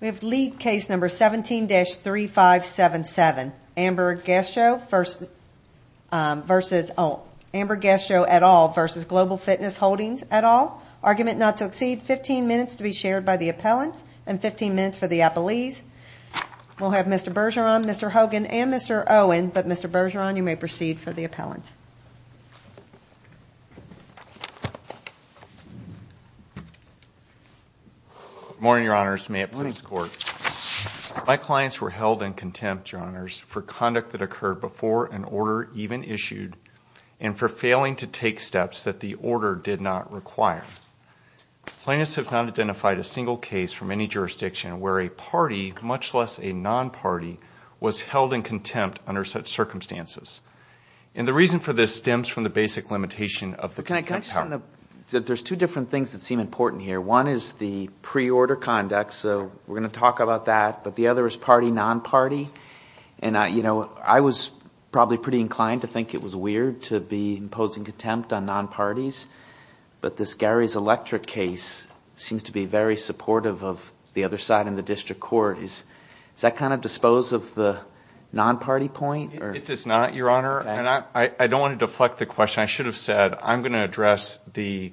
We have lead case number 17-3577, Amber Gascho et al. v. Global Fitness Holdings et al. Argument not to exceed 15 minutes to be shared by the appellants and 15 minutes for the appellees. We'll have Mr. Bergeron, Mr. Hogan, and Mr. Owen, but Mr. Bergeron, you may proceed for the appellants. Good morning, Your Honors. May it please the Court. My clients were held in contempt, Your Honors, for conduct that occurred before an order even issued and for failing to take steps that the order did not require. Plaintiffs have not identified a single case from any jurisdiction where a party, much less a non-party, was held in contempt under such circumstances. And the reason for this stems from the basic limitation of the contempt power. Can I just add that there's two different things that seem important here. One is the pre-order conduct, so we're going to talk about that, but the other is party-non-party. And I was probably pretty inclined to think it was weird to be imposing contempt on non-parties, but this Gary's Electric case seems to be very supportive of the other side in the district court. Does that kind of dispose of the non-party point? It does not, Your Honor, and I don't want to deflect the question. I should have said I'm going to address the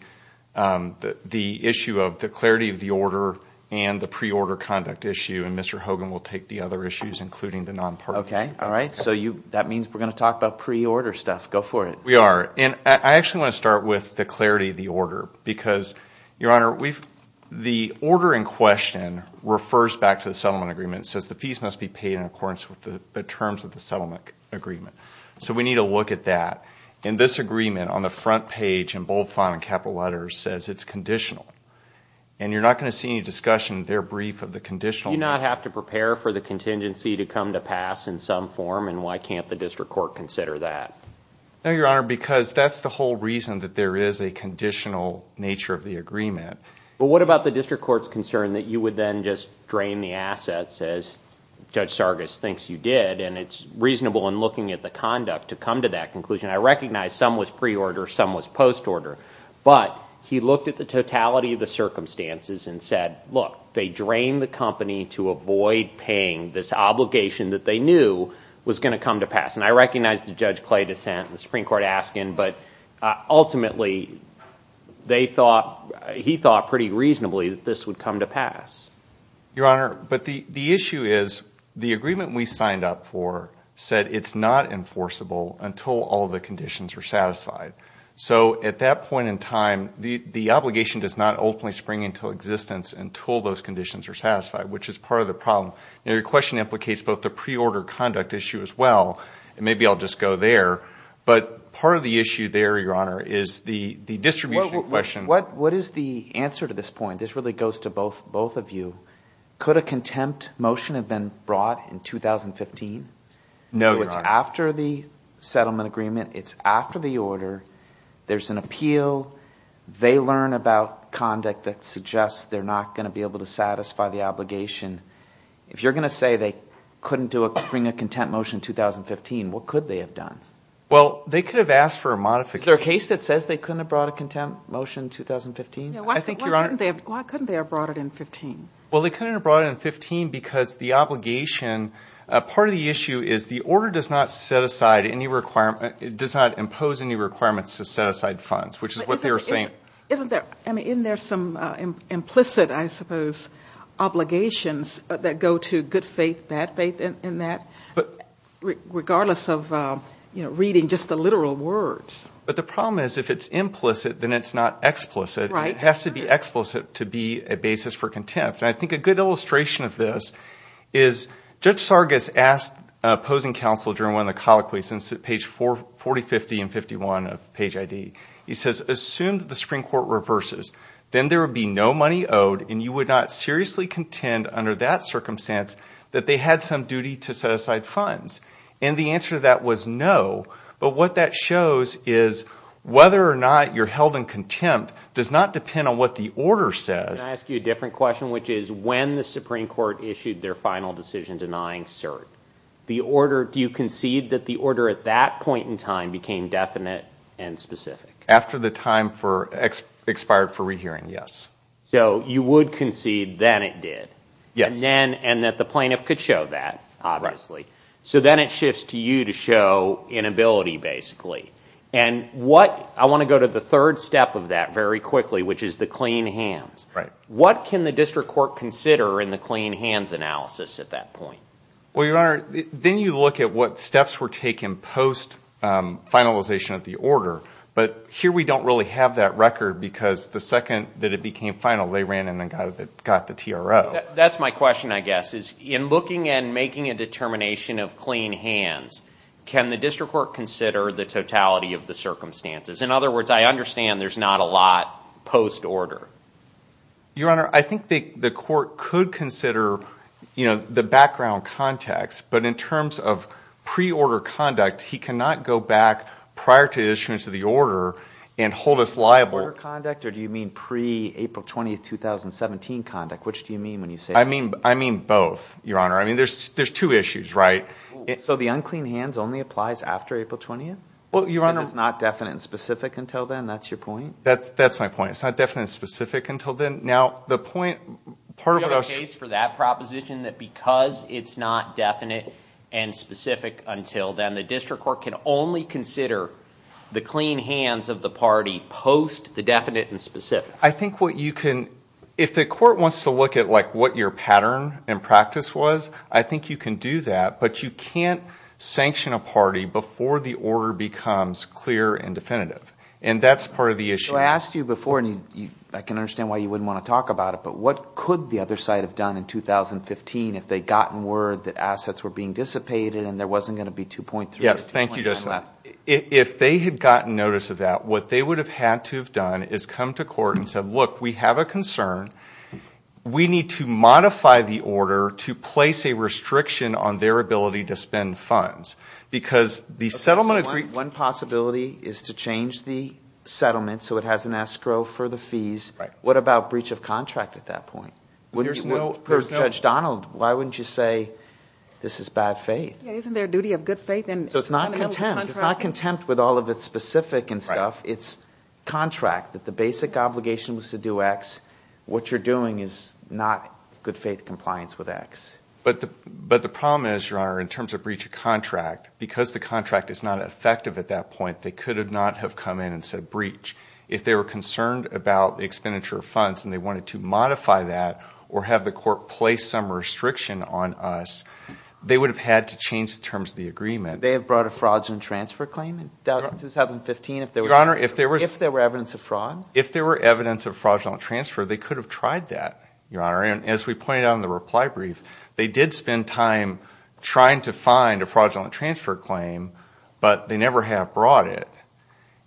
issue of the clarity of the order and the pre-order conduct issue, and Mr. Hogan will take the other issues, including the non-parties. Okay. All right. So that means we're going to talk about pre-order stuff. Go for it. We are, and I actually want to start with the clarity of the order because, Your Honor, the order in question refers back to the settlement agreement. It says the fees must be paid in accordance with the terms of the settlement agreement. So we need to look at that. And this agreement on the front page in bold font and capital letters says it's conditional, and you're not going to see any discussion in their brief of the conditional. Do you not have to prepare for the contingency to come to pass in some form, and why can't the district court consider that? No, Your Honor, because that's the whole reason that there is a conditional nature of the agreement. But what about the district court's concern that you would then just drain the assets, as Judge Sargas thinks you did, and it's reasonable in looking at the conduct to come to that conclusion. I recognize some was pre-order, some was post-order, but he looked at the totality of the circumstances and said, look, they drained the company to avoid paying this obligation that they knew was going to come to pass. And I recognize that Judge Clay dissented and the Supreme Court asked him, but ultimately he thought pretty reasonably that this would come to pass. Your Honor, but the issue is the agreement we signed up for said it's not enforceable until all the conditions are satisfied. So at that point in time, the obligation does not ultimately spring into existence until those conditions are satisfied, which is part of the problem. Your question implicates both the pre-order conduct issue as well, and maybe I'll just go there, but part of the issue there, Your Honor, is the distribution question. What is the answer to this point? This really goes to both of you. Could a contempt motion have been brought in 2015? No, Your Honor. It's after the settlement agreement. It's after the order. There's an appeal. They learn about conduct that suggests they're not going to be able to satisfy the obligation. If you're going to say they couldn't bring a contempt motion in 2015, what could they have done? Well, they could have asked for a modification. Is there a case that says they couldn't have brought a contempt motion in 2015? Why couldn't they have brought it in 2015? Well, they couldn't have brought it in 2015 because the obligation, part of the issue is the order does not set aside any requirement, does not impose any requirements to set aside funds, which is what they were saying. Isn't there some implicit, I suppose, obligations that go to good faith, bad faith in that, regardless of reading just the literal words? But the problem is if it's implicit, then it's not explicit. It has to be explicit to be a basis for contempt. And I think a good illustration of this is Judge Sargas asked an opposing counsel during one of the colloquies, and it's at page 40, 50, and 51 of page ID. He says, assume that the Supreme Court reverses. Then there would be no money owed, and you would not seriously contend under that circumstance that they had some duty to set aside funds. And the answer to that was no. But what that shows is whether or not you're held in contempt does not depend on what the order says. Can I ask you a different question, which is when the Supreme Court issued their final decision denying cert, do you concede that the order at that point in time became definite and specific? After the time expired for rehearing, yes. So you would concede then it did. Yes. And that the plaintiff could show that, obviously. So then it shifts to you to show inability, basically. And I want to go to the third step of that very quickly, which is the clean hands. Right. What can the district court consider in the clean hands analysis at that point? Well, Your Honor, then you look at what steps were taken post-finalization of the order. But here we don't really have that record because the second that it became final, they ran in and got the TRO. That's my question, I guess, is in looking and making a determination of clean hands, can the district court consider the totality of the circumstances? In other words, I understand there's not a lot post-order. Your Honor, I think the court could consider the background context. But in terms of pre-order conduct, he cannot go back prior to the issuance of the order and hold us liable. Pre-order conduct, or do you mean pre-April 20, 2017 conduct? Which do you mean when you say that? I mean both, Your Honor. I mean, there's two issues, right? So the unclean hands only applies after April 20th? Well, Your Honor. Because it's not definite and specific until then? That's your point? That's my point. It's not definite and specific until then. Now, the point, part of what I was— Do you have a case for that proposition that because it's not definite and specific until then, the district court can only consider the clean hands of the party post the definite and specific? I think what you can—if the court wants to look at what your pattern and practice was, I think you can do that. But you can't sanction a party before the order becomes clear and definitive. And that's part of the issue. So I asked you before, and I can understand why you wouldn't want to talk about it, but what could the other side have done in 2015 if they'd gotten word that assets were being dissipated and there wasn't going to be 2.3 or 2.9 left? Yes, thank you, Justice. If they had gotten notice of that, what they would have had to have done is come to court and said, look, we have a concern. We need to modify the order to place a restriction on their ability to spend funds. Because the settlement— One possibility is to change the settlement so it has an escrow for the fees. What about breach of contract at that point? There's no— So it's not contempt. It's not contempt with all of its specific and stuff. It's contract, that the basic obligation was to do X. What you're doing is not good faith compliance with X. But the problem is, Your Honor, in terms of breach of contract, because the contract is not effective at that point, they could not have come in and said breach. If they were concerned about the expenditure of funds and they wanted to modify that or have the court place some restriction on us, they would have had to change the terms of the agreement. They have brought a fraudulent transfer claim in 2015 if there were evidence of fraud? If there were evidence of fraudulent transfer, they could have tried that, Your Honor. And as we pointed out in the reply brief, they did spend time trying to find a fraudulent transfer claim, but they never have brought it.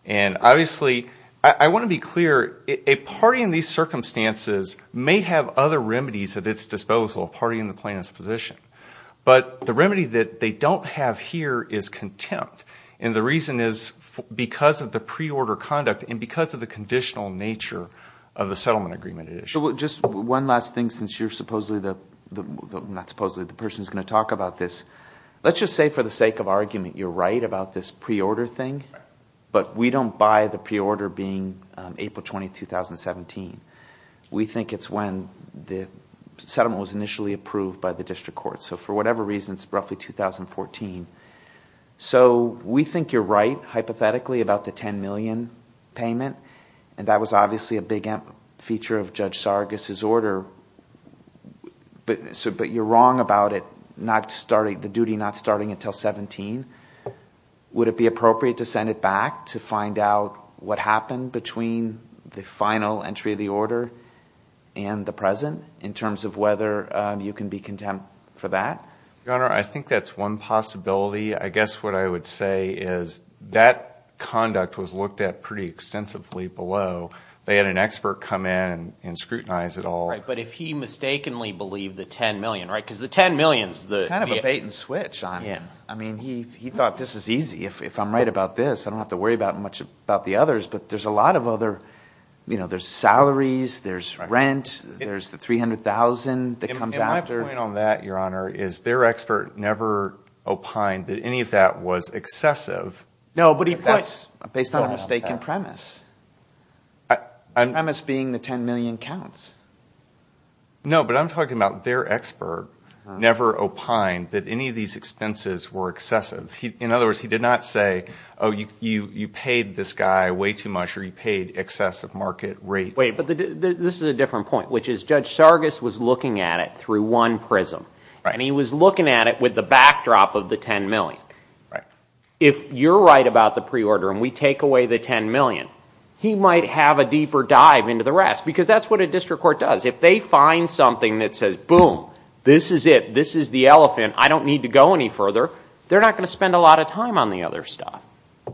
And obviously I want to be clear. A party in these circumstances may have other remedies at its disposal, a party in the plaintiff's position. But the remedy that they don't have here is contempt. And the reason is because of the pre-order conduct and because of the conditional nature of the settlement agreement. So just one last thing since you're supposedly the – not supposedly, the person who's going to talk about this. Let's just say for the sake of argument you're right about this pre-order thing. But we don't buy the pre-order being April 20, 2017. We think it's when the settlement was initially approved by the district court. So for whatever reason, it's roughly 2014. So we think you're right hypothetically about the $10 million payment, and that was obviously a big feature of Judge Sargas' order. But you're wrong about it not starting – the duty not starting until 2017. Would it be appropriate to send it back to find out what happened between the final entry of the order and the present in terms of whether you can be contempt for that? Your Honor, I think that's one possibility. I guess what I would say is that conduct was looked at pretty extensively below. They had an expert come in and scrutinize it all. Right, but if he mistakenly believed the $10 million, right, because the $10 million is the – It's kind of a bait and switch on him. I mean he thought this is easy. If I'm right about this, I don't have to worry much about the others. But there's a lot of other – there's salaries. There's rent. There's the $300,000 that comes after. And my point on that, Your Honor, is their expert never opined that any of that was excessive. No, but he points – That's based on a mistaken premise. The premise being the $10 million counts. No, but I'm talking about their expert never opined that any of these expenses were excessive. In other words, he did not say, oh, you paid this guy way too much or you paid excessive market rate. Wait, but this is a different point, which is Judge Sargas was looking at it through one prism. Right. And he was looking at it with the backdrop of the $10 million. Right. If you're right about the preorder and we take away the $10 million, he might have a deeper dive into the rest because that's what a district court does. If they find something that says, boom, this is it, this is the elephant, I don't need to go any further, they're not going to spend a lot of time on the other stuff.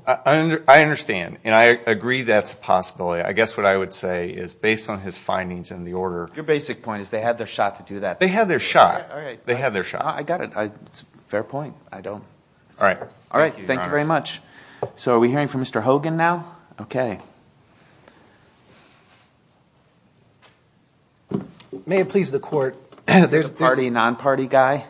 I understand, and I agree that's a possibility. I guess what I would say is based on his findings and the order – Your basic point is they had their shot to do that. They had their shot. They had their shot. I got it. It's a fair point. I don't – All right. Thank you, Your Honor. All right. Thank you very much. So are we hearing from Mr. Hogan now? Okay. May it please the Court – You're the party, non-party guy?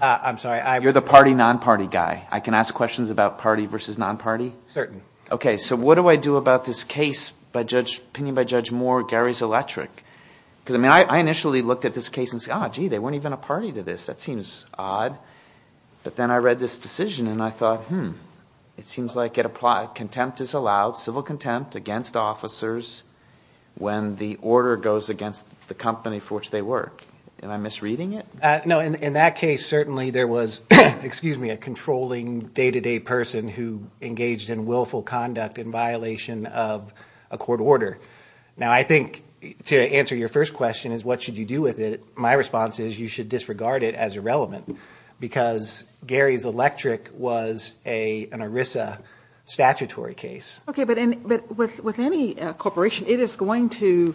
I'm sorry. You're the party, non-party guy. I can ask questions about party versus non-party? Certain. Okay. So what do I do about this case, opinion by Judge Moore, Gary's electric? Because, I mean, I initially looked at this case and said, oh, gee, they weren't even a party to this. That seems odd. But then I read this decision and I thought, hmm, it seems like it applies. Contempt is allowed, civil contempt. Contempt against officers when the order goes against the company for which they work. Am I misreading it? No. In that case, certainly there was, excuse me, a controlling day-to-day person who engaged in willful conduct in violation of a court order. Now, I think to answer your first question is what should you do with it, my response is you should disregard it as irrelevant because Gary's electric was an ERISA statutory case. Okay. But with any corporation, it is going to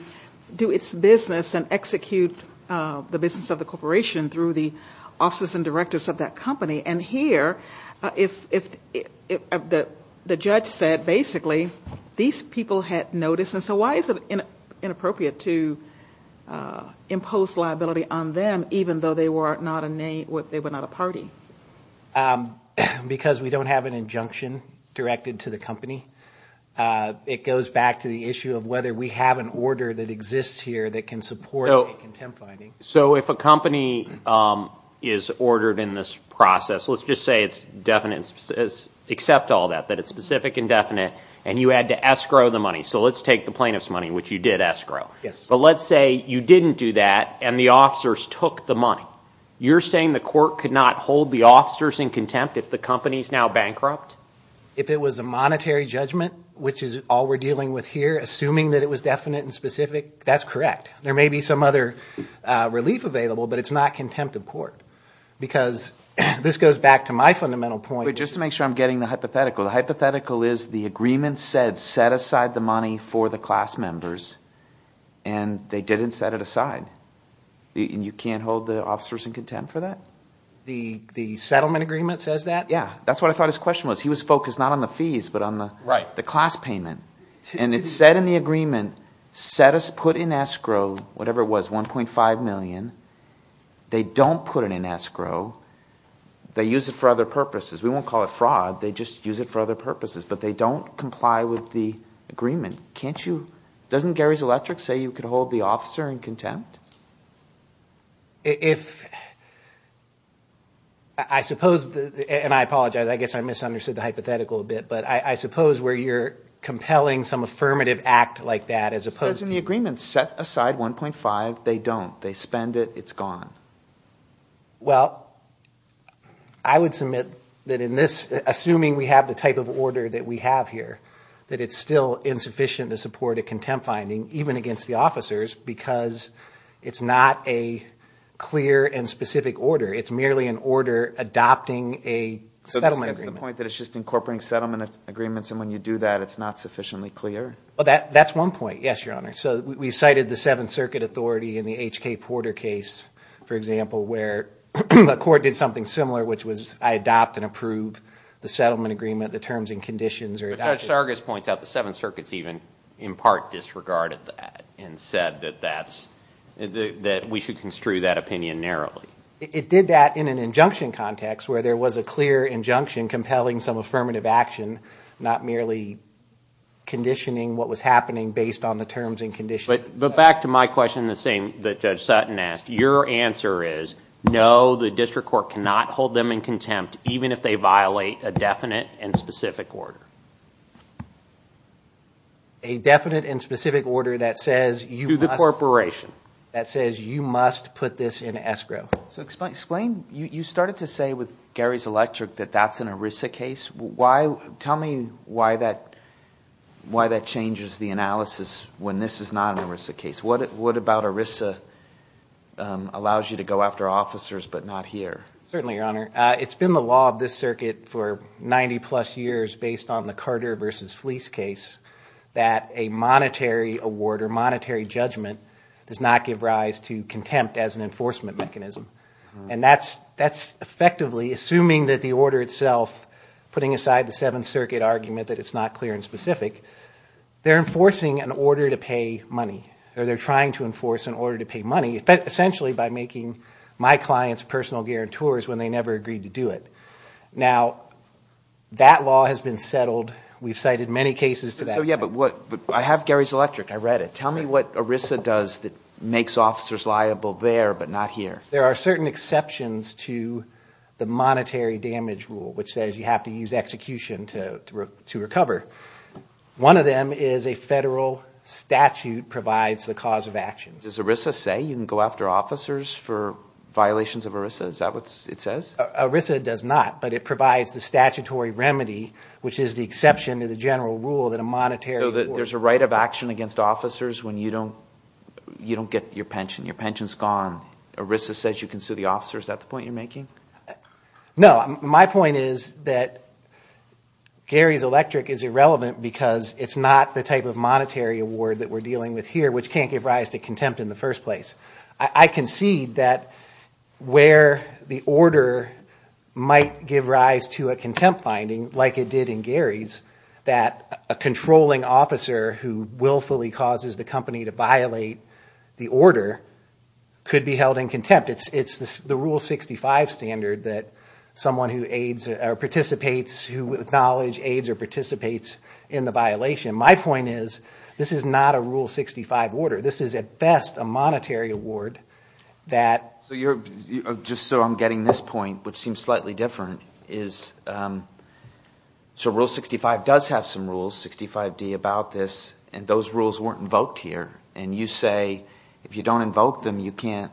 do its business and execute the business of the corporation through the officers and directors of that company. And here, the judge said basically these people had noticed. And so why is it inappropriate to impose liability on them even though they were not a party? Because we don't have an injunction directed to the company. It goes back to the issue of whether we have an order that exists here that can support a contempt finding. So if a company is ordered in this process, let's just say it's definite, accept all that, that it's specific and definite, and you had to escrow the money. So let's take the plaintiff's money, which you did escrow. But let's say you didn't do that and the officers took the money. Now, you're saying the court could not hold the officers in contempt if the company is now bankrupt? If it was a monetary judgment, which is all we're dealing with here, assuming that it was definite and specific, that's correct. There may be some other relief available, but it's not contempt of court. Because this goes back to my fundamental point. Wait, just to make sure I'm getting the hypothetical. The hypothetical is the agreement said set aside the money for the class members, and they didn't set it aside. You can't hold the officers in contempt for that? The settlement agreement says that? Yeah. That's what I thought his question was. He was focused not on the fees, but on the class payment. And it said in the agreement, set us put in escrow, whatever it was, $1.5 million. They don't put it in escrow. They use it for other purposes. We won't call it fraud. They just use it for other purposes. But they don't comply with the agreement. Doesn't Gary's Electric say you could hold the officer in contempt? If I suppose, and I apologize. I guess I misunderstood the hypothetical a bit. But I suppose where you're compelling some affirmative act like that as opposed to the agreement set aside $1.5, they don't. They spend it. It's gone. Well, I would submit that in this, assuming we have the type of order that we have here, that it's still insufficient to support a contempt finding, even against the officers, because it's not a clear and specific order. It's merely an order adopting a settlement agreement. So that's the point, that it's just incorporating settlement agreements, and when you do that, it's not sufficiently clear? That's one point, yes, Your Honor. So we cited the Seventh Circuit authority in the H.K. Porter case, for example, where a court did something similar, which was I adopt and approve the settlement agreement, the terms and conditions are adopted. But Judge Sargas points out the Seventh Circuit's even in part disregarded that and said that we should construe that opinion narrowly. It did that in an injunction context where there was a clear injunction compelling some affirmative action, not merely conditioning what was happening based on the terms and conditions. But back to my question, the same that Judge Sutton asked. Your answer is no, the district court cannot hold them in contempt, even if they violate a definite and specific order. A definite and specific order that says you must put this in escrow. So explain, you started to say with Gary's Electric that that's an ERISA case. Tell me why that changes the analysis when this is not an ERISA case. What about ERISA allows you to go after officers but not here? Certainly, Your Honor. It's been the law of this circuit for 90-plus years based on the Carter v. Fleece case that a monetary award or monetary judgment does not give rise to contempt as an enforcement mechanism. And that's effectively, assuming that the order itself, putting aside the Seventh Circuit argument that it's not clear and specific, they're enforcing an order to pay money, or they're trying to enforce an order to pay money, essentially by making my clients personal guarantors when they never agreed to do it. Now, that law has been settled. We've cited many cases to that effect. But I have Gary's Electric. I read it. Tell me what ERISA does that makes officers liable there but not here. There are certain exceptions to the monetary damage rule, which says you have to use execution to recover. One of them is a federal statute provides the cause of action. Does ERISA say you can go after officers for violations of ERISA? Is that what it says? ERISA does not. But it provides the statutory remedy, which is the exception to the general rule that a monetary award... So there's a right of action against officers when you don't get your pension. Your pension's gone. ERISA says you can sue the officers. Is that the point you're making? No. My point is that Gary's Electric is irrelevant because it's not the type of monetary award that we're dealing with here, which can't give rise to contempt in the first place. I concede that where the order might give rise to a contempt finding, like it did in Gary's, that a controlling officer who willfully causes the company to violate the order could be held in contempt. It's the Rule 65 standard that someone who participates, who with knowledge aids or participates in the violation. My point is this is not a Rule 65 order. This is, at best, a monetary award that... Just so I'm getting this point, which seems slightly different, is Rule 65 does have some rules, 65D, about this, and those rules weren't invoked here. And you say if you don't invoke them, you can't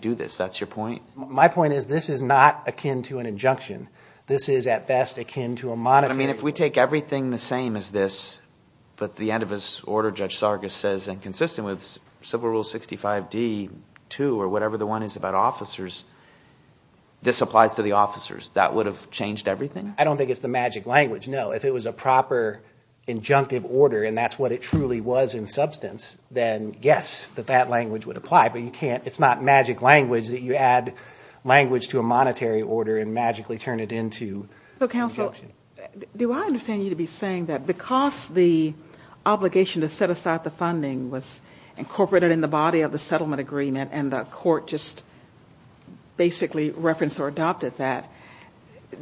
do this. That's your point? My point is this is not akin to an injunction. This is, at best, akin to a monetary... But, I mean, if we take everything the same as this, but the end of this order, Judge Sargas says, and consistent with Civil Rule 65D-2 or whatever the one is about officers, this applies to the officers. That would have changed everything? I don't think it's the magic language. No, if it was a proper injunctive order and that's what it truly was in substance, then yes, that that language would apply. But you can't... It's not magic language that you add language to a monetary order and magically turn it into injunction. Do I understand you to be saying that because the obligation to set aside the funding was incorporated in the body of the settlement agreement and the court just basically referenced or adopted that,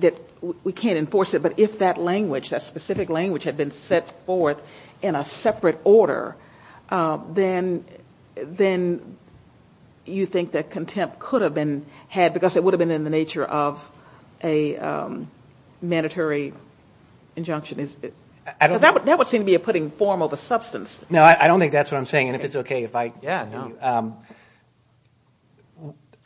that we can't enforce it? But if that language, that specific language, had been set forth in a separate order, then you think that contempt could have been had because it would have been in the nature of a mandatory injunction. That would seem to be a putting form of a substance. No, I don't think that's what I'm saying, and if it's okay if I... Yeah, no.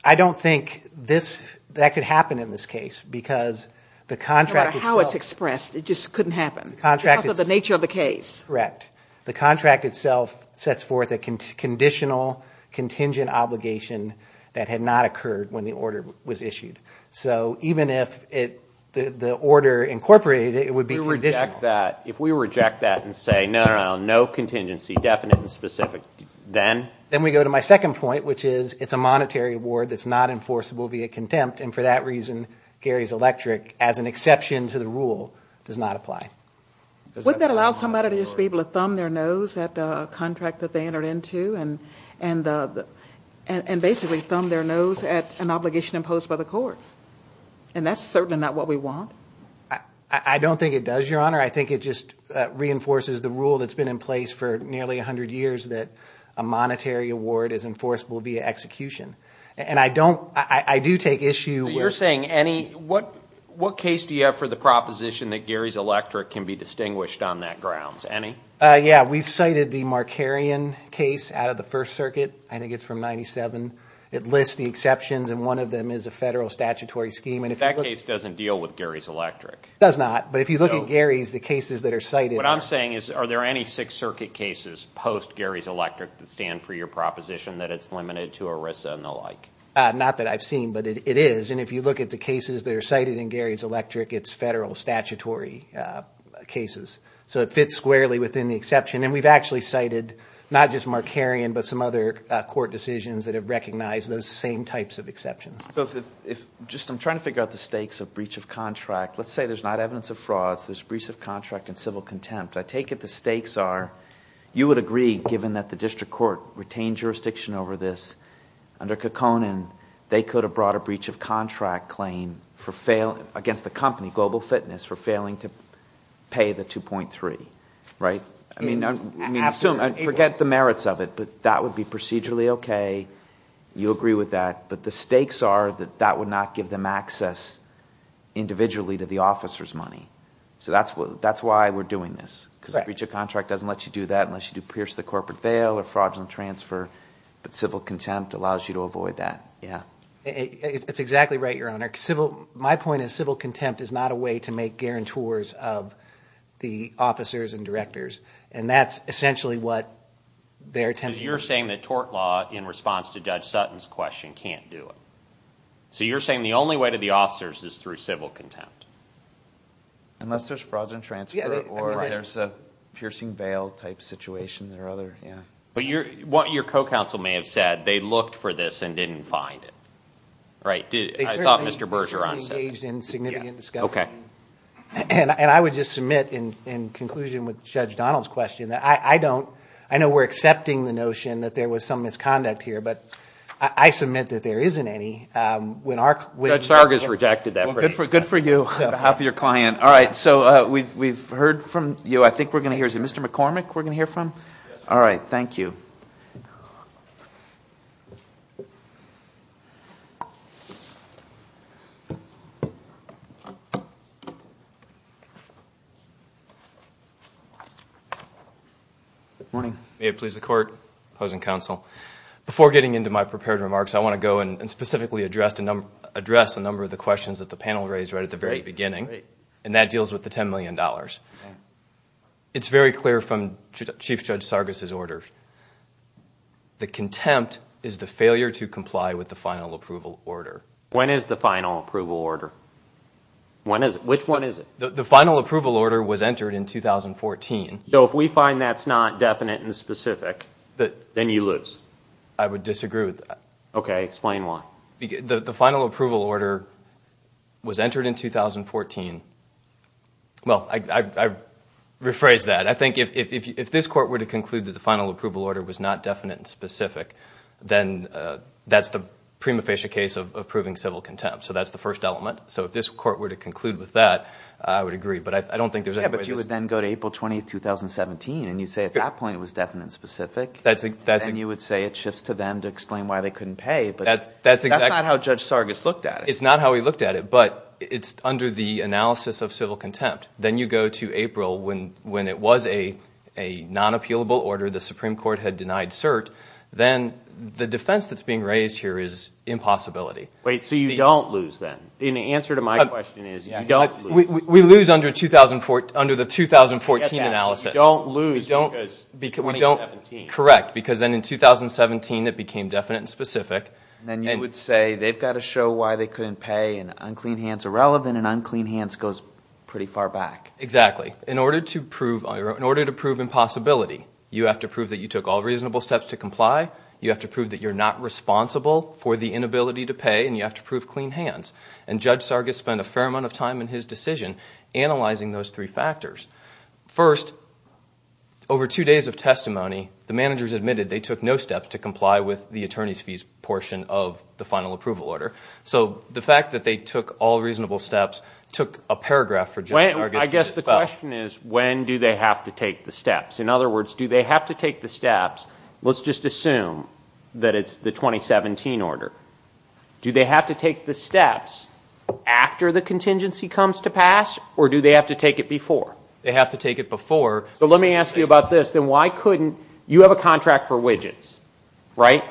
I don't think that could happen in this case because the contract itself... No matter how it's expressed, it just couldn't happen because of the nature of the case. Correct. The contract itself sets forth a conditional contingent obligation that had not occurred when the order was issued. So even if the order incorporated it, it would be conditional. If we reject that and say, no, no, no, no, no contingency, definite and specific, then? Then we go to my second point, which is it's a monetary award that's not enforceable via contempt, and for that reason, Gary's Electric, as an exception to the rule, does not apply. Wouldn't that allow somebody to just be able to thumb their nose at a contract that they entered into and basically thumb their nose at an obligation imposed by the court? And that's certainly not what we want. I don't think it does, Your Honor. I think it just reinforces the rule that's been in place for nearly 100 years that a monetary award is enforceable via execution. And I do take issue with... Any? Yeah, we've cited the Markarian case out of the First Circuit. I think it's from 97. It lists the exceptions, and one of them is a federal statutory scheme. That case doesn't deal with Gary's Electric. It does not. But if you look at Gary's, the cases that are cited... What I'm saying is, are there any Sixth Circuit cases post-Gary's Electric that stand for your proposition that it's limited to ERISA and the like? Not that I've seen, but it is. And if you look at the cases that are cited in Gary's Electric, it's federal statutory cases. So it fits squarely within the exception. And we've actually cited not just Markarian, but some other court decisions that have recognized those same types of exceptions. So just I'm trying to figure out the stakes of breach of contract. Let's say there's not evidence of frauds. There's breach of contract and civil contempt. I take it the stakes are you would agree, given that the district court retained jurisdiction over this, under Kekkonen, they could have brought a breach of contract claim against the company, Global Fitness, for failing to pay the 2.3, right? I mean, forget the merits of it, but that would be procedurally okay. You agree with that. But the stakes are that that would not give them access individually to the officer's money. So that's why we're doing this, because a breach of contract doesn't let you do that unless you do pierce the corporate veil or fraudulent transfer. But civil contempt allows you to avoid that, yeah. It's exactly right, Your Honor. My point is civil contempt is not a way to make guarantors of the officers and directors. And that's essentially what their attempt is. Because you're saying that tort law, in response to Judge Sutton's question, can't do it. So you're saying the only way to the officers is through civil contempt. Unless there's fraudulent transfer or there's a piercing veil type situation or other, yeah. But what your co-counsel may have said, they looked for this and didn't find it. Right? I thought Mr. Bergeron said that. They certainly engaged in significant discussion. And I would just submit, in conclusion with Judge Donald's question, that I don't, I know we're accepting the notion that there was some misconduct here, but I submit that there isn't any. Judge Sargas rejected that. Well, good for you on behalf of your client. All right, so we've heard from you. I think we're going to hear, is it Mr. McCormick we're going to hear from? Yes. All right, thank you. Good morning. May it please the Court, opposing counsel. Before getting into my prepared remarks, I want to go and specifically address the number of the questions that the panel raised right at the very beginning, and that deals with the $10 million. It's very clear from Chief Judge Sargas' order. The contempt is the failure to comply with the final approval order. When is the final approval order? When is it? Which one is it? The final approval order was entered in 2014. So if we find that's not definite and specific, then you lose. I would disagree with that. Okay, explain why. The final approval order was entered in 2014. Well, I rephrase that. I think if this Court were to conclude that the final approval order was not definite and specific, then that's the prima facie case of proving civil contempt. So that's the first element. So if this Court were to conclude with that, I would agree. Yeah, but you would then go to April 20, 2017, and you'd say at that point it was definite and specific. Then you would say it shifts to them to explain why they couldn't pay. That's not how Judge Sargas looked at it. It's not how he looked at it, but it's under the analysis of civil contempt. Then you go to April when it was a non-appealable order. The Supreme Court had denied cert. Then the defense that's being raised here is impossibility. Wait, so you don't lose then? The answer to my question is you don't lose. We lose under the 2014 analysis. You don't lose because 2017. Correct, because then in 2017 it became definite and specific. Then you would say they've got to show why they couldn't pay, and unclean hands are relevant, and unclean hands goes pretty far back. Exactly. In order to prove impossibility, you have to prove that you took all reasonable steps to comply. You have to prove that you're not responsible for the inability to pay, and you have to prove clean hands. And Judge Sargas spent a fair amount of time in his decision analyzing those three factors. First, over two days of testimony, the managers admitted they took no steps to comply with the attorney's fees portion of the final approval order. So the fact that they took all reasonable steps took a paragraph for Judge Sargas to dispel. I guess the question is when do they have to take the steps? In other words, do they have to take the steps? Let's just assume that it's the 2017 order. Do they have to take the steps after the contingency comes to pass, or do they have to take it before? They have to take it before. So let me ask you about this. You have a contract for widgets, right?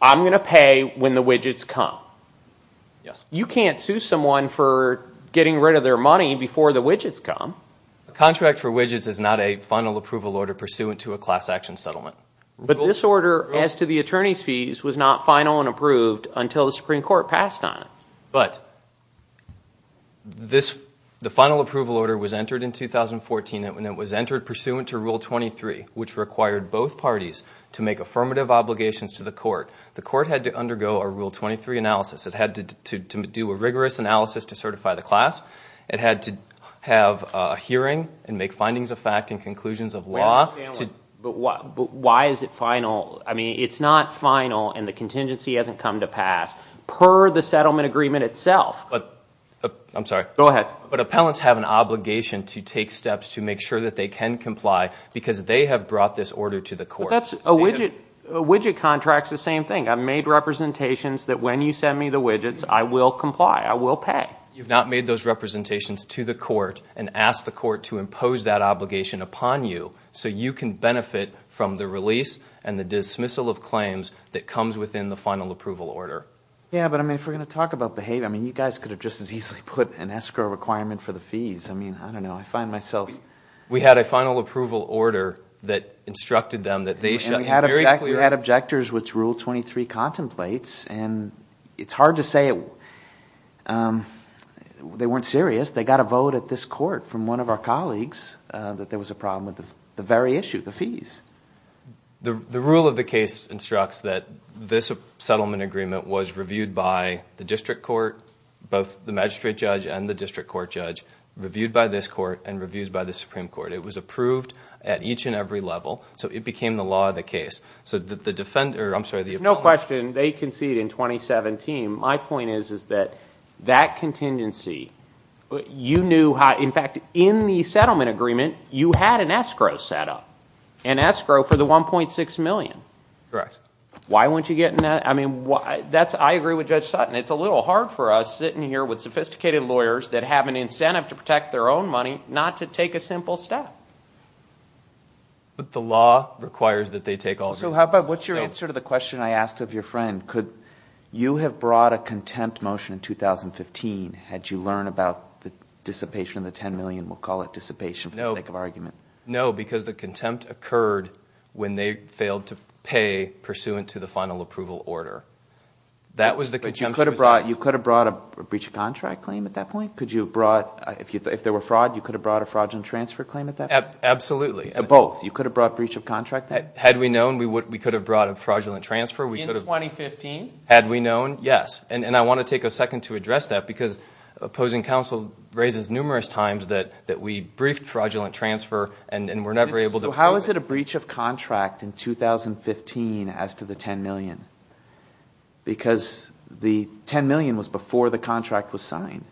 I'm going to pay when the widgets come. You can't sue someone for getting rid of their money before the widgets come. A contract for widgets is not a final approval order pursuant to a class action settlement. But this order as to the attorney's fees was not final and approved until the Supreme Court passed on it. But the final approval order was entered in 2014, and it was entered pursuant to Rule 23, which required both parties to make affirmative obligations to the court. The court had to undergo a Rule 23 analysis. It had to do a rigorous analysis to certify the class. It had to have a hearing and make findings of fact and conclusions of law. But why is it final? I mean, it's not final and the contingency hasn't come to pass per the settlement agreement itself. I'm sorry. Go ahead. But appellants have an obligation to take steps to make sure that they can comply because they have brought this order to the court. A widget contract is the same thing. I've made representations that when you send me the widgets, I will comply. I will pay. You've not made those representations to the court and asked the court to impose that obligation upon you so you can benefit from the release and the dismissal of claims that comes within the final approval order. Yeah, but, I mean, if we're going to talk about behavior, I mean, you guys could have just as easily put an escrow requirement for the fees. I mean, I don't know. I find myself. We had a final approval order that instructed them that they should be very clear. We had objectors which ruled 23 contemplates, and it's hard to say. They weren't serious. They got a vote at this court from one of our colleagues that there was a problem with the very issue, the fees. The rule of the case instructs that this settlement agreement was reviewed by the district court, both the magistrate judge and the district court judge, reviewed by this court, and reviewed by the Supreme Court. It was approved at each and every level. So it became the law of the case. So the defender, I'm sorry, the opponent. No question. They conceded in 2017. My point is that that contingency, you knew how, in fact, in the settlement agreement, you had an escrow set up, an escrow for the $1.6 million. Correct. Why weren't you getting that? I agree with Judge Sutton. It's a little hard for us sitting here with sophisticated lawyers that have an incentive to protect their own money not to take a simple step. But the law requires that they take all of your money. What's your answer to the question I asked of your friend? You have brought a contempt motion in 2015. Had you learned about the dissipation of the $10 million? We'll call it dissipation for the sake of argument. No, because the contempt occurred when they failed to pay pursuant to the final approval order. You could have brought a breach of contract claim at that point? If there were fraud, you could have brought a fraudulent transfer claim at that point? Absolutely. Both? You could have brought breach of contract then? Had we known, we could have brought a fraudulent transfer. In 2015? Had we known, yes. I want to take a second to address that because opposing counsel raises numerous times that we briefed fraudulent transfer and were never able to prove it. How is it a breach of contract in 2015 as to the $10 million? Because the $10 million was before the contract was signed.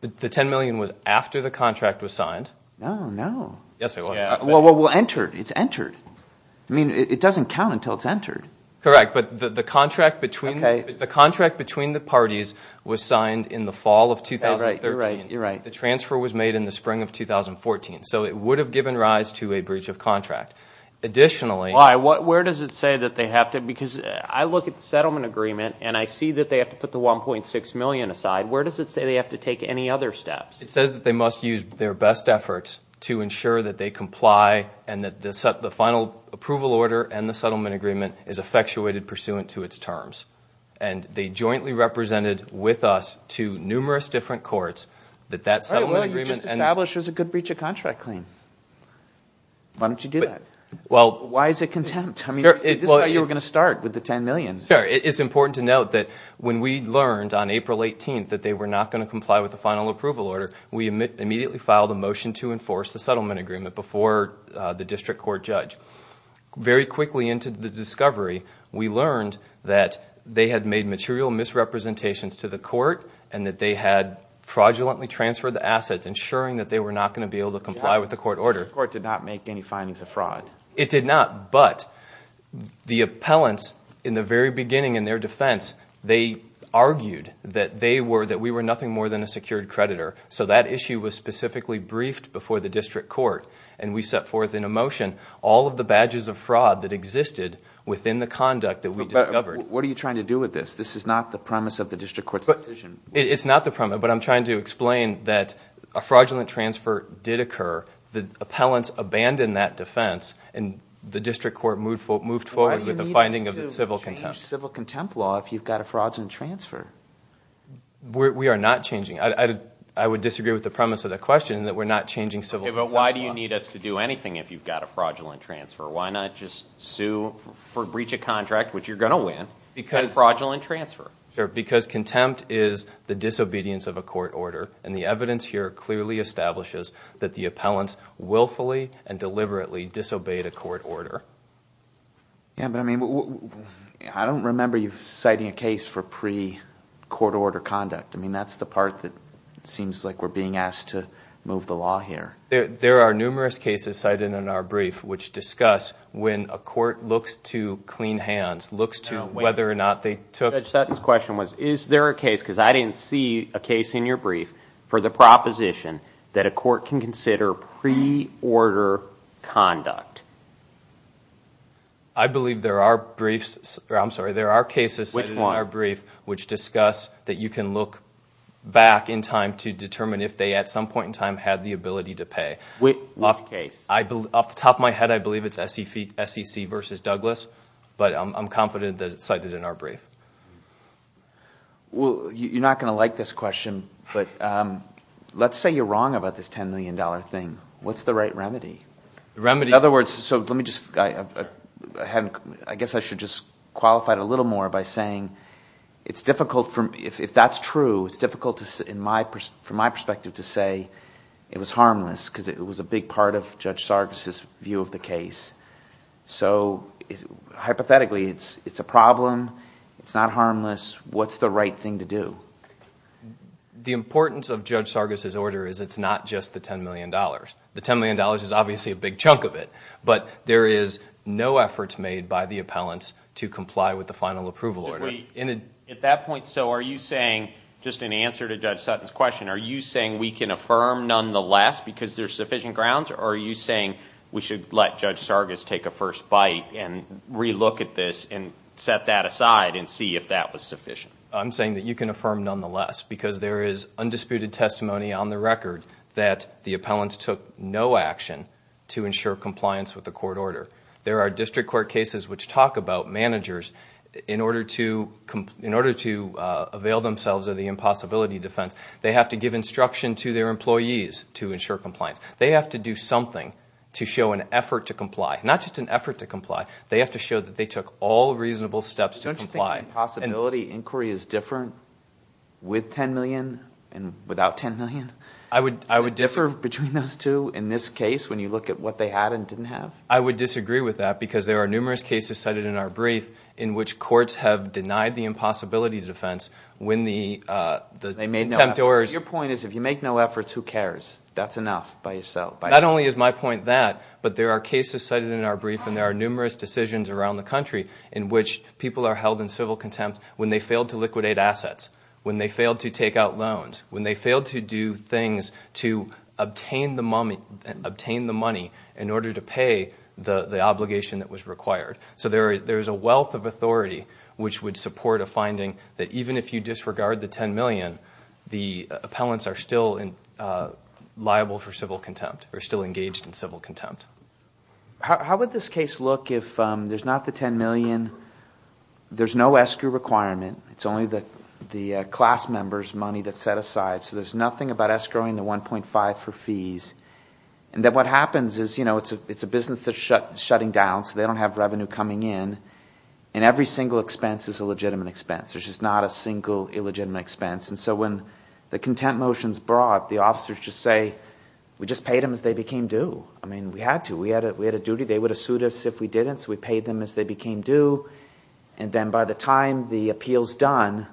The $10 million was after the contract was signed. No, no. Yes, it was. It doesn't count until it's entered. Correct, but the contract between the parties was signed in the fall of 2013. You're right, you're right. The transfer was made in the spring of 2014, so it would have given rise to a breach of contract. Why? Where does it say that they have to? Because I look at the settlement agreement and I see that they have to put the $1.6 million aside. Where does it say they have to take any other steps? It says that they must use their best efforts to ensure that they comply and that the final approval order and the settlement agreement is effectuated pursuant to its terms. And they jointly represented with us to numerous different courts that that settlement agreement— All right, well, you just established there's a good breach of contract claim. Why don't you do that? Well— Why is it contempt? I mean, this is how you were going to start with the $10 million. Sure. It's important to note that when we learned on April 18th that they were not going to comply with the final approval order, we immediately filed a motion to enforce the settlement agreement before the district court judge. Very quickly into the discovery, we learned that they had made material misrepresentations to the court and that they had fraudulently transferred the assets, ensuring that they were not going to be able to comply with the court order. The court did not make any findings of fraud. It did not, but the appellants in the very beginning in their defense, they argued that we were nothing more than a secured creditor. So that issue was specifically briefed before the district court, and we set forth in a motion all of the badges of fraud that existed within the conduct that we discovered. What are you trying to do with this? This is not the premise of the district court's decision. It's not the premise, but I'm trying to explain that a fraudulent transfer did occur. The appellants abandoned that defense, and the district court moved forward with a finding of civil contempt. Why change civil contempt law if you've got a fraudulent transfer? We are not changing. I would disagree with the premise of the question that we're not changing civil contempt law. But why do you need us to do anything if you've got a fraudulent transfer? Why not just sue for breach of contract, which you're going to win, and fraudulent transfer? Because contempt is the disobedience of a court order, and the evidence here clearly establishes that the appellants willfully and deliberately disobeyed a court order. Yeah, but I mean, I don't remember you citing a case for pre-court order conduct. I mean, that's the part that seems like we're being asked to move the law here. There are numerous cases cited in our brief which discuss when a court looks to clean hands, looks to whether or not they took- Judge Sutton's question was, is there a case, because I didn't see a case in your brief, for the proposition that a court can consider pre-order conduct? I believe there are briefs, or I'm sorry, there are cases in our brief which discuss that you can look back in time to determine if they at some point in time had the ability to pay. Which case? Off the top of my head, I believe it's SEC v. Douglas, but I'm confident that it's cited in our brief. Well, you're not going to like this question, but let's say you're wrong about this $10 million thing. What's the right remedy? In other words, I guess I should just qualify it a little more by saying it's difficult, if that's true, it's difficult from my perspective to say it was harmless because it was a big part of Judge Sargas' view of the case. So hypothetically, it's a problem. It's not harmless. What's the right thing to do? The importance of Judge Sargas' order is it's not just the $10 million. The $10 million is obviously a big chunk of it, but there is no effort made by the appellants to comply with the final approval order. At that point, so are you saying, just in answer to Judge Sutton's question, are you saying we can affirm nonetheless because there's sufficient grounds? Or are you saying we should let Judge Sargas take a first bite and relook at this and set that aside and see if that was sufficient? I'm saying that you can affirm nonetheless because there is undisputed testimony on the record that the appellants took no action to ensure compliance with the court order. There are district court cases which talk about managers, in order to avail themselves of the impossibility defense, they have to give instruction to their employees to ensure compliance. They have to do something to show an effort to comply. Not just an effort to comply. They have to show that they took all reasonable steps to comply. So you're saying the impossibility inquiry is different with $10 million and without $10 million? I would disagree. Is it different between those two in this case when you look at what they had and didn't have? I would disagree with that because there are numerous cases cited in our brief in which courts have denied the impossibility defense when the attempters – Your point is if you make no efforts, who cares? That's enough by yourself. Not only is my point that, but there are cases cited in our brief and there are numerous decisions around the country in which people are held in civil contempt when they failed to liquidate assets, when they failed to take out loans, when they failed to do things to obtain the money in order to pay the obligation that was required. So there's a wealth of authority which would support a finding that even if you disregard the $10 million, the appellants are still liable for civil contempt or still engaged in civil contempt. How would this case look if there's not the $10 million? There's no escrow requirement. It's only the class member's money that's set aside. So there's nothing about escrowing the 1.5 for fees. What happens is it's a business that's shutting down, so they don't have revenue coming in, and every single expense is a legitimate expense. There's just not a single illegitimate expense. So when the contempt motion is brought, the officers just say, we just paid them as they became due. We had to. We had a duty. They would have sued us if we didn't, so we paid them as they became due. Then by the time the appeal is done,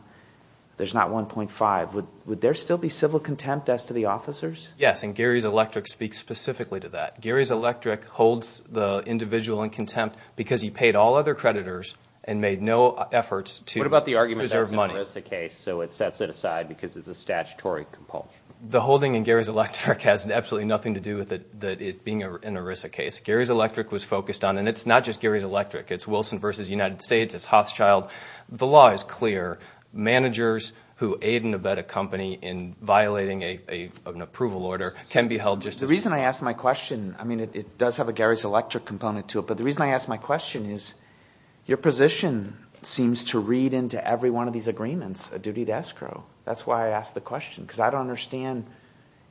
there's not 1.5. Would there still be civil contempt as to the officers? Yes, and Gary's Electric speaks specifically to that. Gary's Electric holds the individual in contempt because he paid all other creditors and made no efforts to preserve money. What about the argument that it's an ERISA case, so it sets it aside because it's a statutory compulsion? The holding in Gary's Electric has absolutely nothing to do with it being an ERISA case. Gary's Electric was focused on, and it's not just Gary's Electric. It's Wilson v. United States. It's Hothschild. The law is clear. Managers who aid and abet a company in violating an approval order can be held just as guilty. The reason I ask my question, I mean it does have a Gary's Electric component to it, but the reason I ask my question is your position seems to read into every one of these agreements a duty to escrow. That's why I ask the question because I don't understand,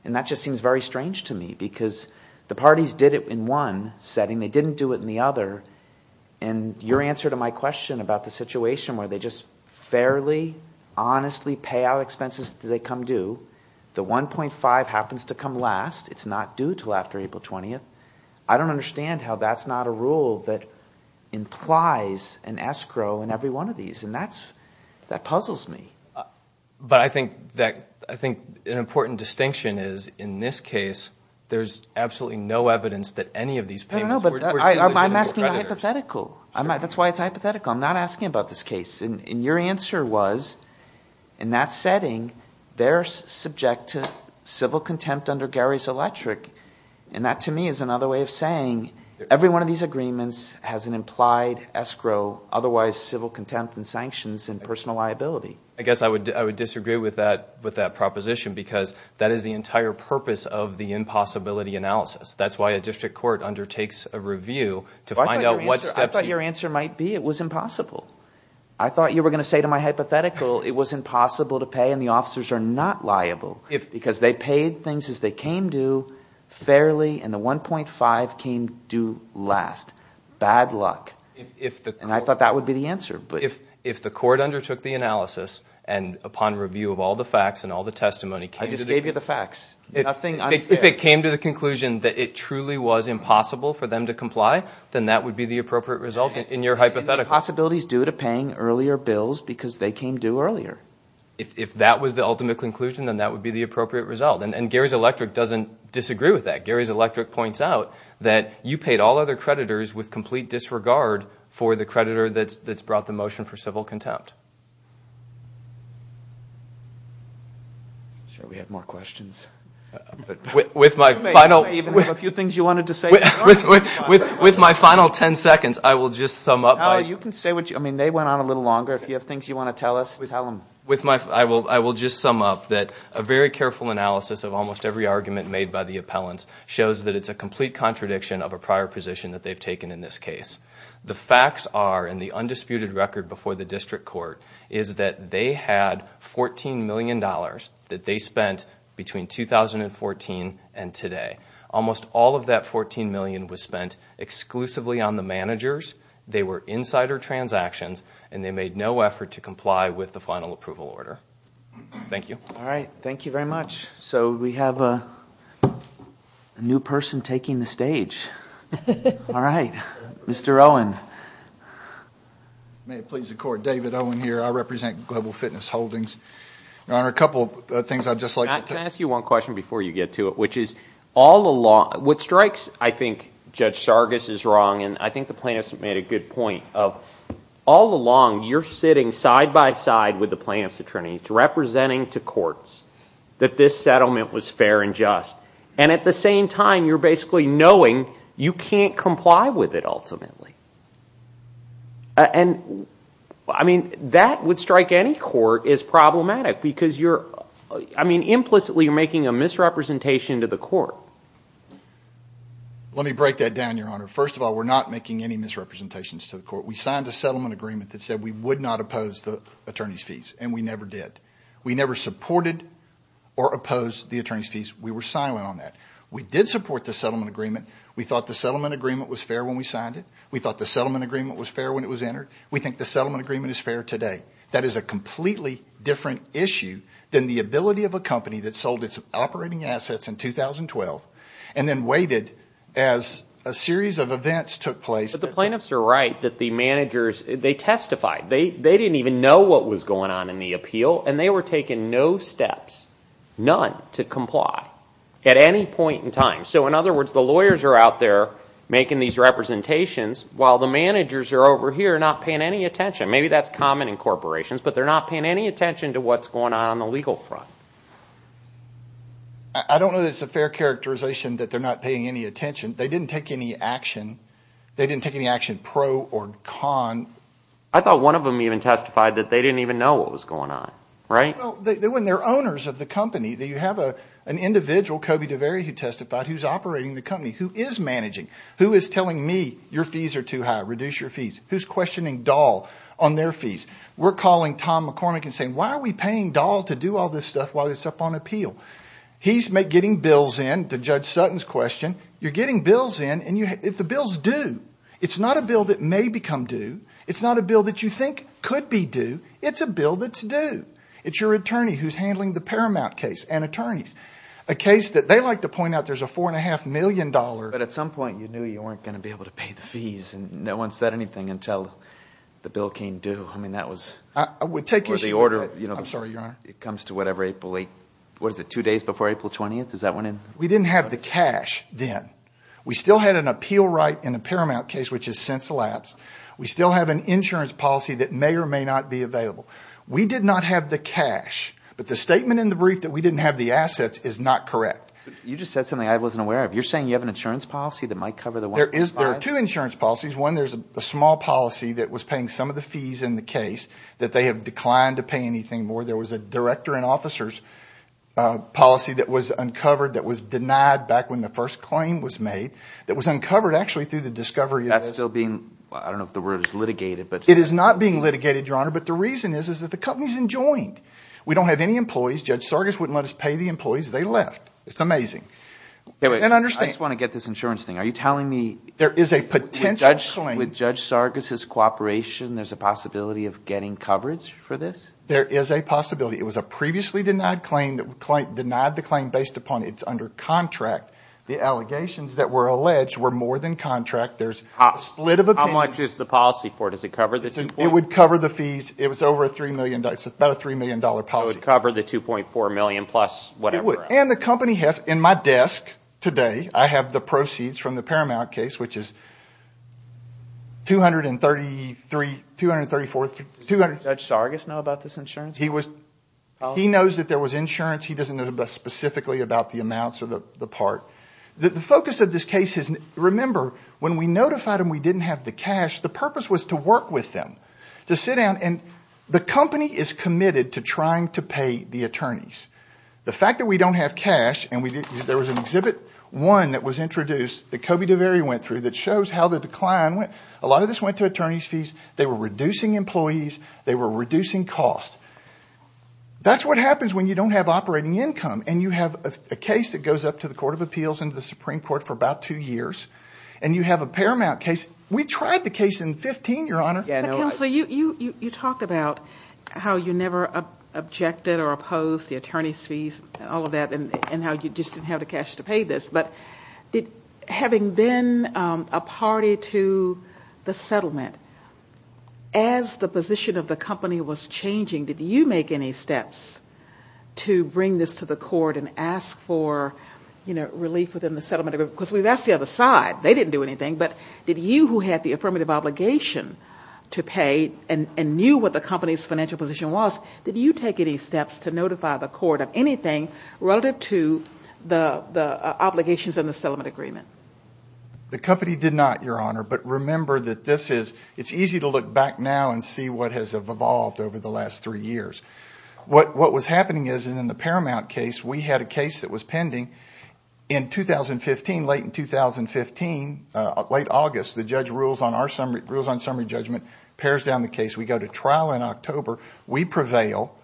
and that just seems very strange to me because the parties did it in one setting. They didn't do it in the other, and your answer to my question about the situation where they just fairly, honestly pay out expenses that they come due, the 1.5 happens to come last. It's not due until after April 20th. I don't understand how that's not a rule that implies an escrow in every one of these, and that puzzles me. But I think an important distinction is in this case, there's absolutely no evidence that any of these payments were due to the creditors. I'm asking a hypothetical. That's why it's a hypothetical. I'm not asking about this case, and your answer was in that setting, they're subject to civil contempt under Gary's Electric, and that to me is another way of saying every one of these agreements has an implied escrow, otherwise civil contempt and sanctions and personal liability. I guess I would disagree with that proposition because that is the entire purpose of the impossibility analysis. That's why a district court undertakes a review to find out what steps… I thought your answer might be it was impossible. I thought you were going to say to my hypothetical it was impossible to pay and the officers are not liable because they paid things as they came due fairly, and the 1.5 came due last. Bad luck, and I thought that would be the answer. If the court undertook the analysis and upon review of all the facts and all the testimony… I just gave you the facts. If it came to the conclusion that it truly was impossible for them to comply, then that would be the appropriate result in your hypothetical. Possibilities due to paying earlier bills because they came due earlier. If that was the ultimate conclusion, then that would be the appropriate result, and Gary's Electric doesn't disagree with that. Gary's Electric points out that you paid all other creditors with complete disregard for the creditor that's brought the motion for civil contempt. I'm sure we have more questions. With my final… You may even have a few things you wanted to say. With my final ten seconds, I will just sum up. You can say what you – I mean they went on a little longer. If you have things you want to tell us, tell them. I will just sum up that a very careful analysis of almost every argument made by the appellants shows that it's a complete contradiction of a prior position that they've taken in this case. The facts are in the undisputed record before the district court is that they had $14 million that they spent between 2014 and today. Almost all of that $14 million was spent exclusively on the managers. They were insider transactions, and they made no effort to comply with the final approval order. Thank you. All right. Thank you very much. So we have a new person taking the stage. All right. Mr. Owen. May it please the Court, David Owen here. Your Honor, a couple of things I'd just like to… Can I ask you one question before you get to it, which is all along – what strikes – I think Judge Sargas is wrong, and I think the plaintiffs made a good point of all along you're sitting side by side with the plaintiffs' attorneys representing to courts that this settlement was fair and just. And at the same time, you're basically knowing you can't comply with it ultimately. And I mean that would strike any court as problematic because you're – I mean implicitly you're making a misrepresentation to the court. Let me break that down, Your Honor. First of all, we're not making any misrepresentations to the court. We signed a settlement agreement that said we would not oppose the attorney's fees, and we never did. We never supported or opposed the attorney's fees. We were silent on that. We did support the settlement agreement. We thought the settlement agreement was fair when we signed it. We thought the settlement agreement was fair when it was entered. We think the settlement agreement is fair today. That is a completely different issue than the ability of a company that sold its operating assets in 2012 and then waited as a series of events took place. But the plaintiffs are right that the managers – they testified. They didn't even know what was going on in the appeal, and they were taking no steps, none, to comply at any point in time. So in other words, the lawyers are out there making these representations while the managers are over here not paying any attention. Maybe that's common in corporations, but they're not paying any attention to what's going on on the legal front. I don't know that it's a fair characterization that they're not paying any attention. They didn't take any action. They didn't take any action pro or con. I thought one of them even testified that they didn't even know what was going on, right? Well, when they're owners of the company, you have an individual, Kobe Davery, who testified who's operating the company, who is managing, who is telling me your fees are too high, reduce your fees, who's questioning Dahl on their fees. We're calling Tom McCormick and saying, why are we paying Dahl to do all this stuff while he's up on appeal? He's getting bills in, to Judge Sutton's question. You're getting bills in, and the bill's due. It's not a bill that may become due. It's not a bill that you think could be due. It's a bill that's due. It's your attorney who's handling the Paramount case and attorneys, a case that they like to point out there's a $4.5 million. But at some point you knew you weren't going to be able to pay the fees, and no one said anything until the bill came due. I mean, that was the order. I'm sorry, Your Honor. It comes to whatever, April 8th. What is it, two days before April 20th? Is that when it was? We didn't have the cash then. We still had an appeal right in the Paramount case, which has since elapsed. We still have an insurance policy that may or may not be available. We did not have the cash. But the statement in the brief that we didn't have the assets is not correct. You just said something I wasn't aware of. You're saying you have an insurance policy that might cover the $4.5 million? There are two insurance policies. One, there's a small policy that was paying some of the fees in the case that they have declined to pay anything more. There was a director and officers policy that was uncovered that was denied back when the first claim was made. It was uncovered actually through the discovery of this. That's still being, I don't know if the word is litigated. It is not being litigated, Your Honor. But the reason is that the company is enjoined. We don't have any employees. Judge Sargas wouldn't let us pay the employees. They left. It's amazing. I just want to get this insurance thing. Are you telling me with Judge Sargas' cooperation there's a possibility of getting coverage for this? There is a possibility. It was a previously denied claim that denied the claim based upon it's under contract. The allegations that were alleged were more than contract. There's a split of opinions. How much is the policy for? Does it cover the fees? It would cover the fees. It was over $3 million. It's about a $3 million policy. It would cover the $2.4 million plus whatever else. It would. And the company has, in my desk today, I have the proceeds from the Paramount case, which is $234,000. Does Judge Sargas know about this insurance policy? He knows that there was insurance. He doesn't know specifically about the amounts or the part. The focus of this case is, remember, when we notified them we didn't have the cash, the purpose was to work with them, to sit down. And the company is committed to trying to pay the attorneys. The fact that we don't have cash, and there was an Exhibit 1 that was introduced that Kobe DeVere went through that shows how the decline went. A lot of this went to attorney's fees. They were reducing employees. They were reducing cost. That's what happens when you don't have operating income and you have a case that goes up to the Court of Appeals and the Supreme Court for about two years, and you have a Paramount case. We tried the case in 2015, Your Honor. Counsel, you talk about how you never objected or opposed the attorney's fees, all of that, and how you just didn't have the cash to pay this. But having been a party to the settlement, as the position of the company was changing, did you make any steps to bring this to the court and ask for relief within the settlement agreement? Because that's the other side. They didn't do anything. But did you, who had the affirmative obligation to pay and knew what the company's financial position was, did you take any steps to notify the court of anything relative to the obligations in the settlement agreement? The company did not, Your Honor. But remember that it's easy to look back now and see what has evolved over the last three years. What was happening is, in the Paramount case, we had a case that was pending in 2015. Late in 2015, late August, the judge rules on summary judgment, pairs down the case. We go to trial in October. We prevail.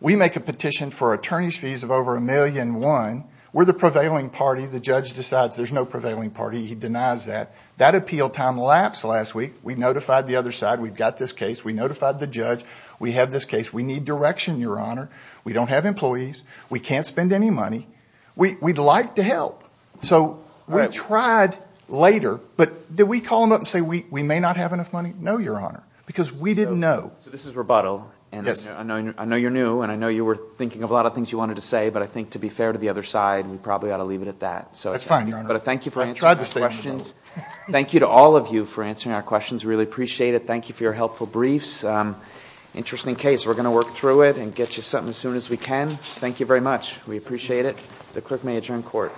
We make a petition for attorney's fees of over $1.1 million. We're the prevailing party. The judge decides there's no prevailing party. He denies that. That appeal time lapsed last week. We notified the other side. We've got this case. We notified the judge. We have this case. We need direction, Your Honor. We don't have employees. We can't spend any money. We'd like to help. So we tried later, but did we call them up and say we may not have enough money? No, Your Honor, because we didn't know. So this is rebuttal. Yes. I know you're new, and I know you were thinking of a lot of things you wanted to say, but I think to be fair to the other side, we probably ought to leave it at that. That's fine, Your Honor. Thank you for answering our questions. Thank you to all of you for answering our questions. We really appreciate it. Thank you for your helpful briefs. Interesting case. We're going to work through it and get you something as soon as we can. Thank you very much. We appreciate it. The clerk may adjourn court.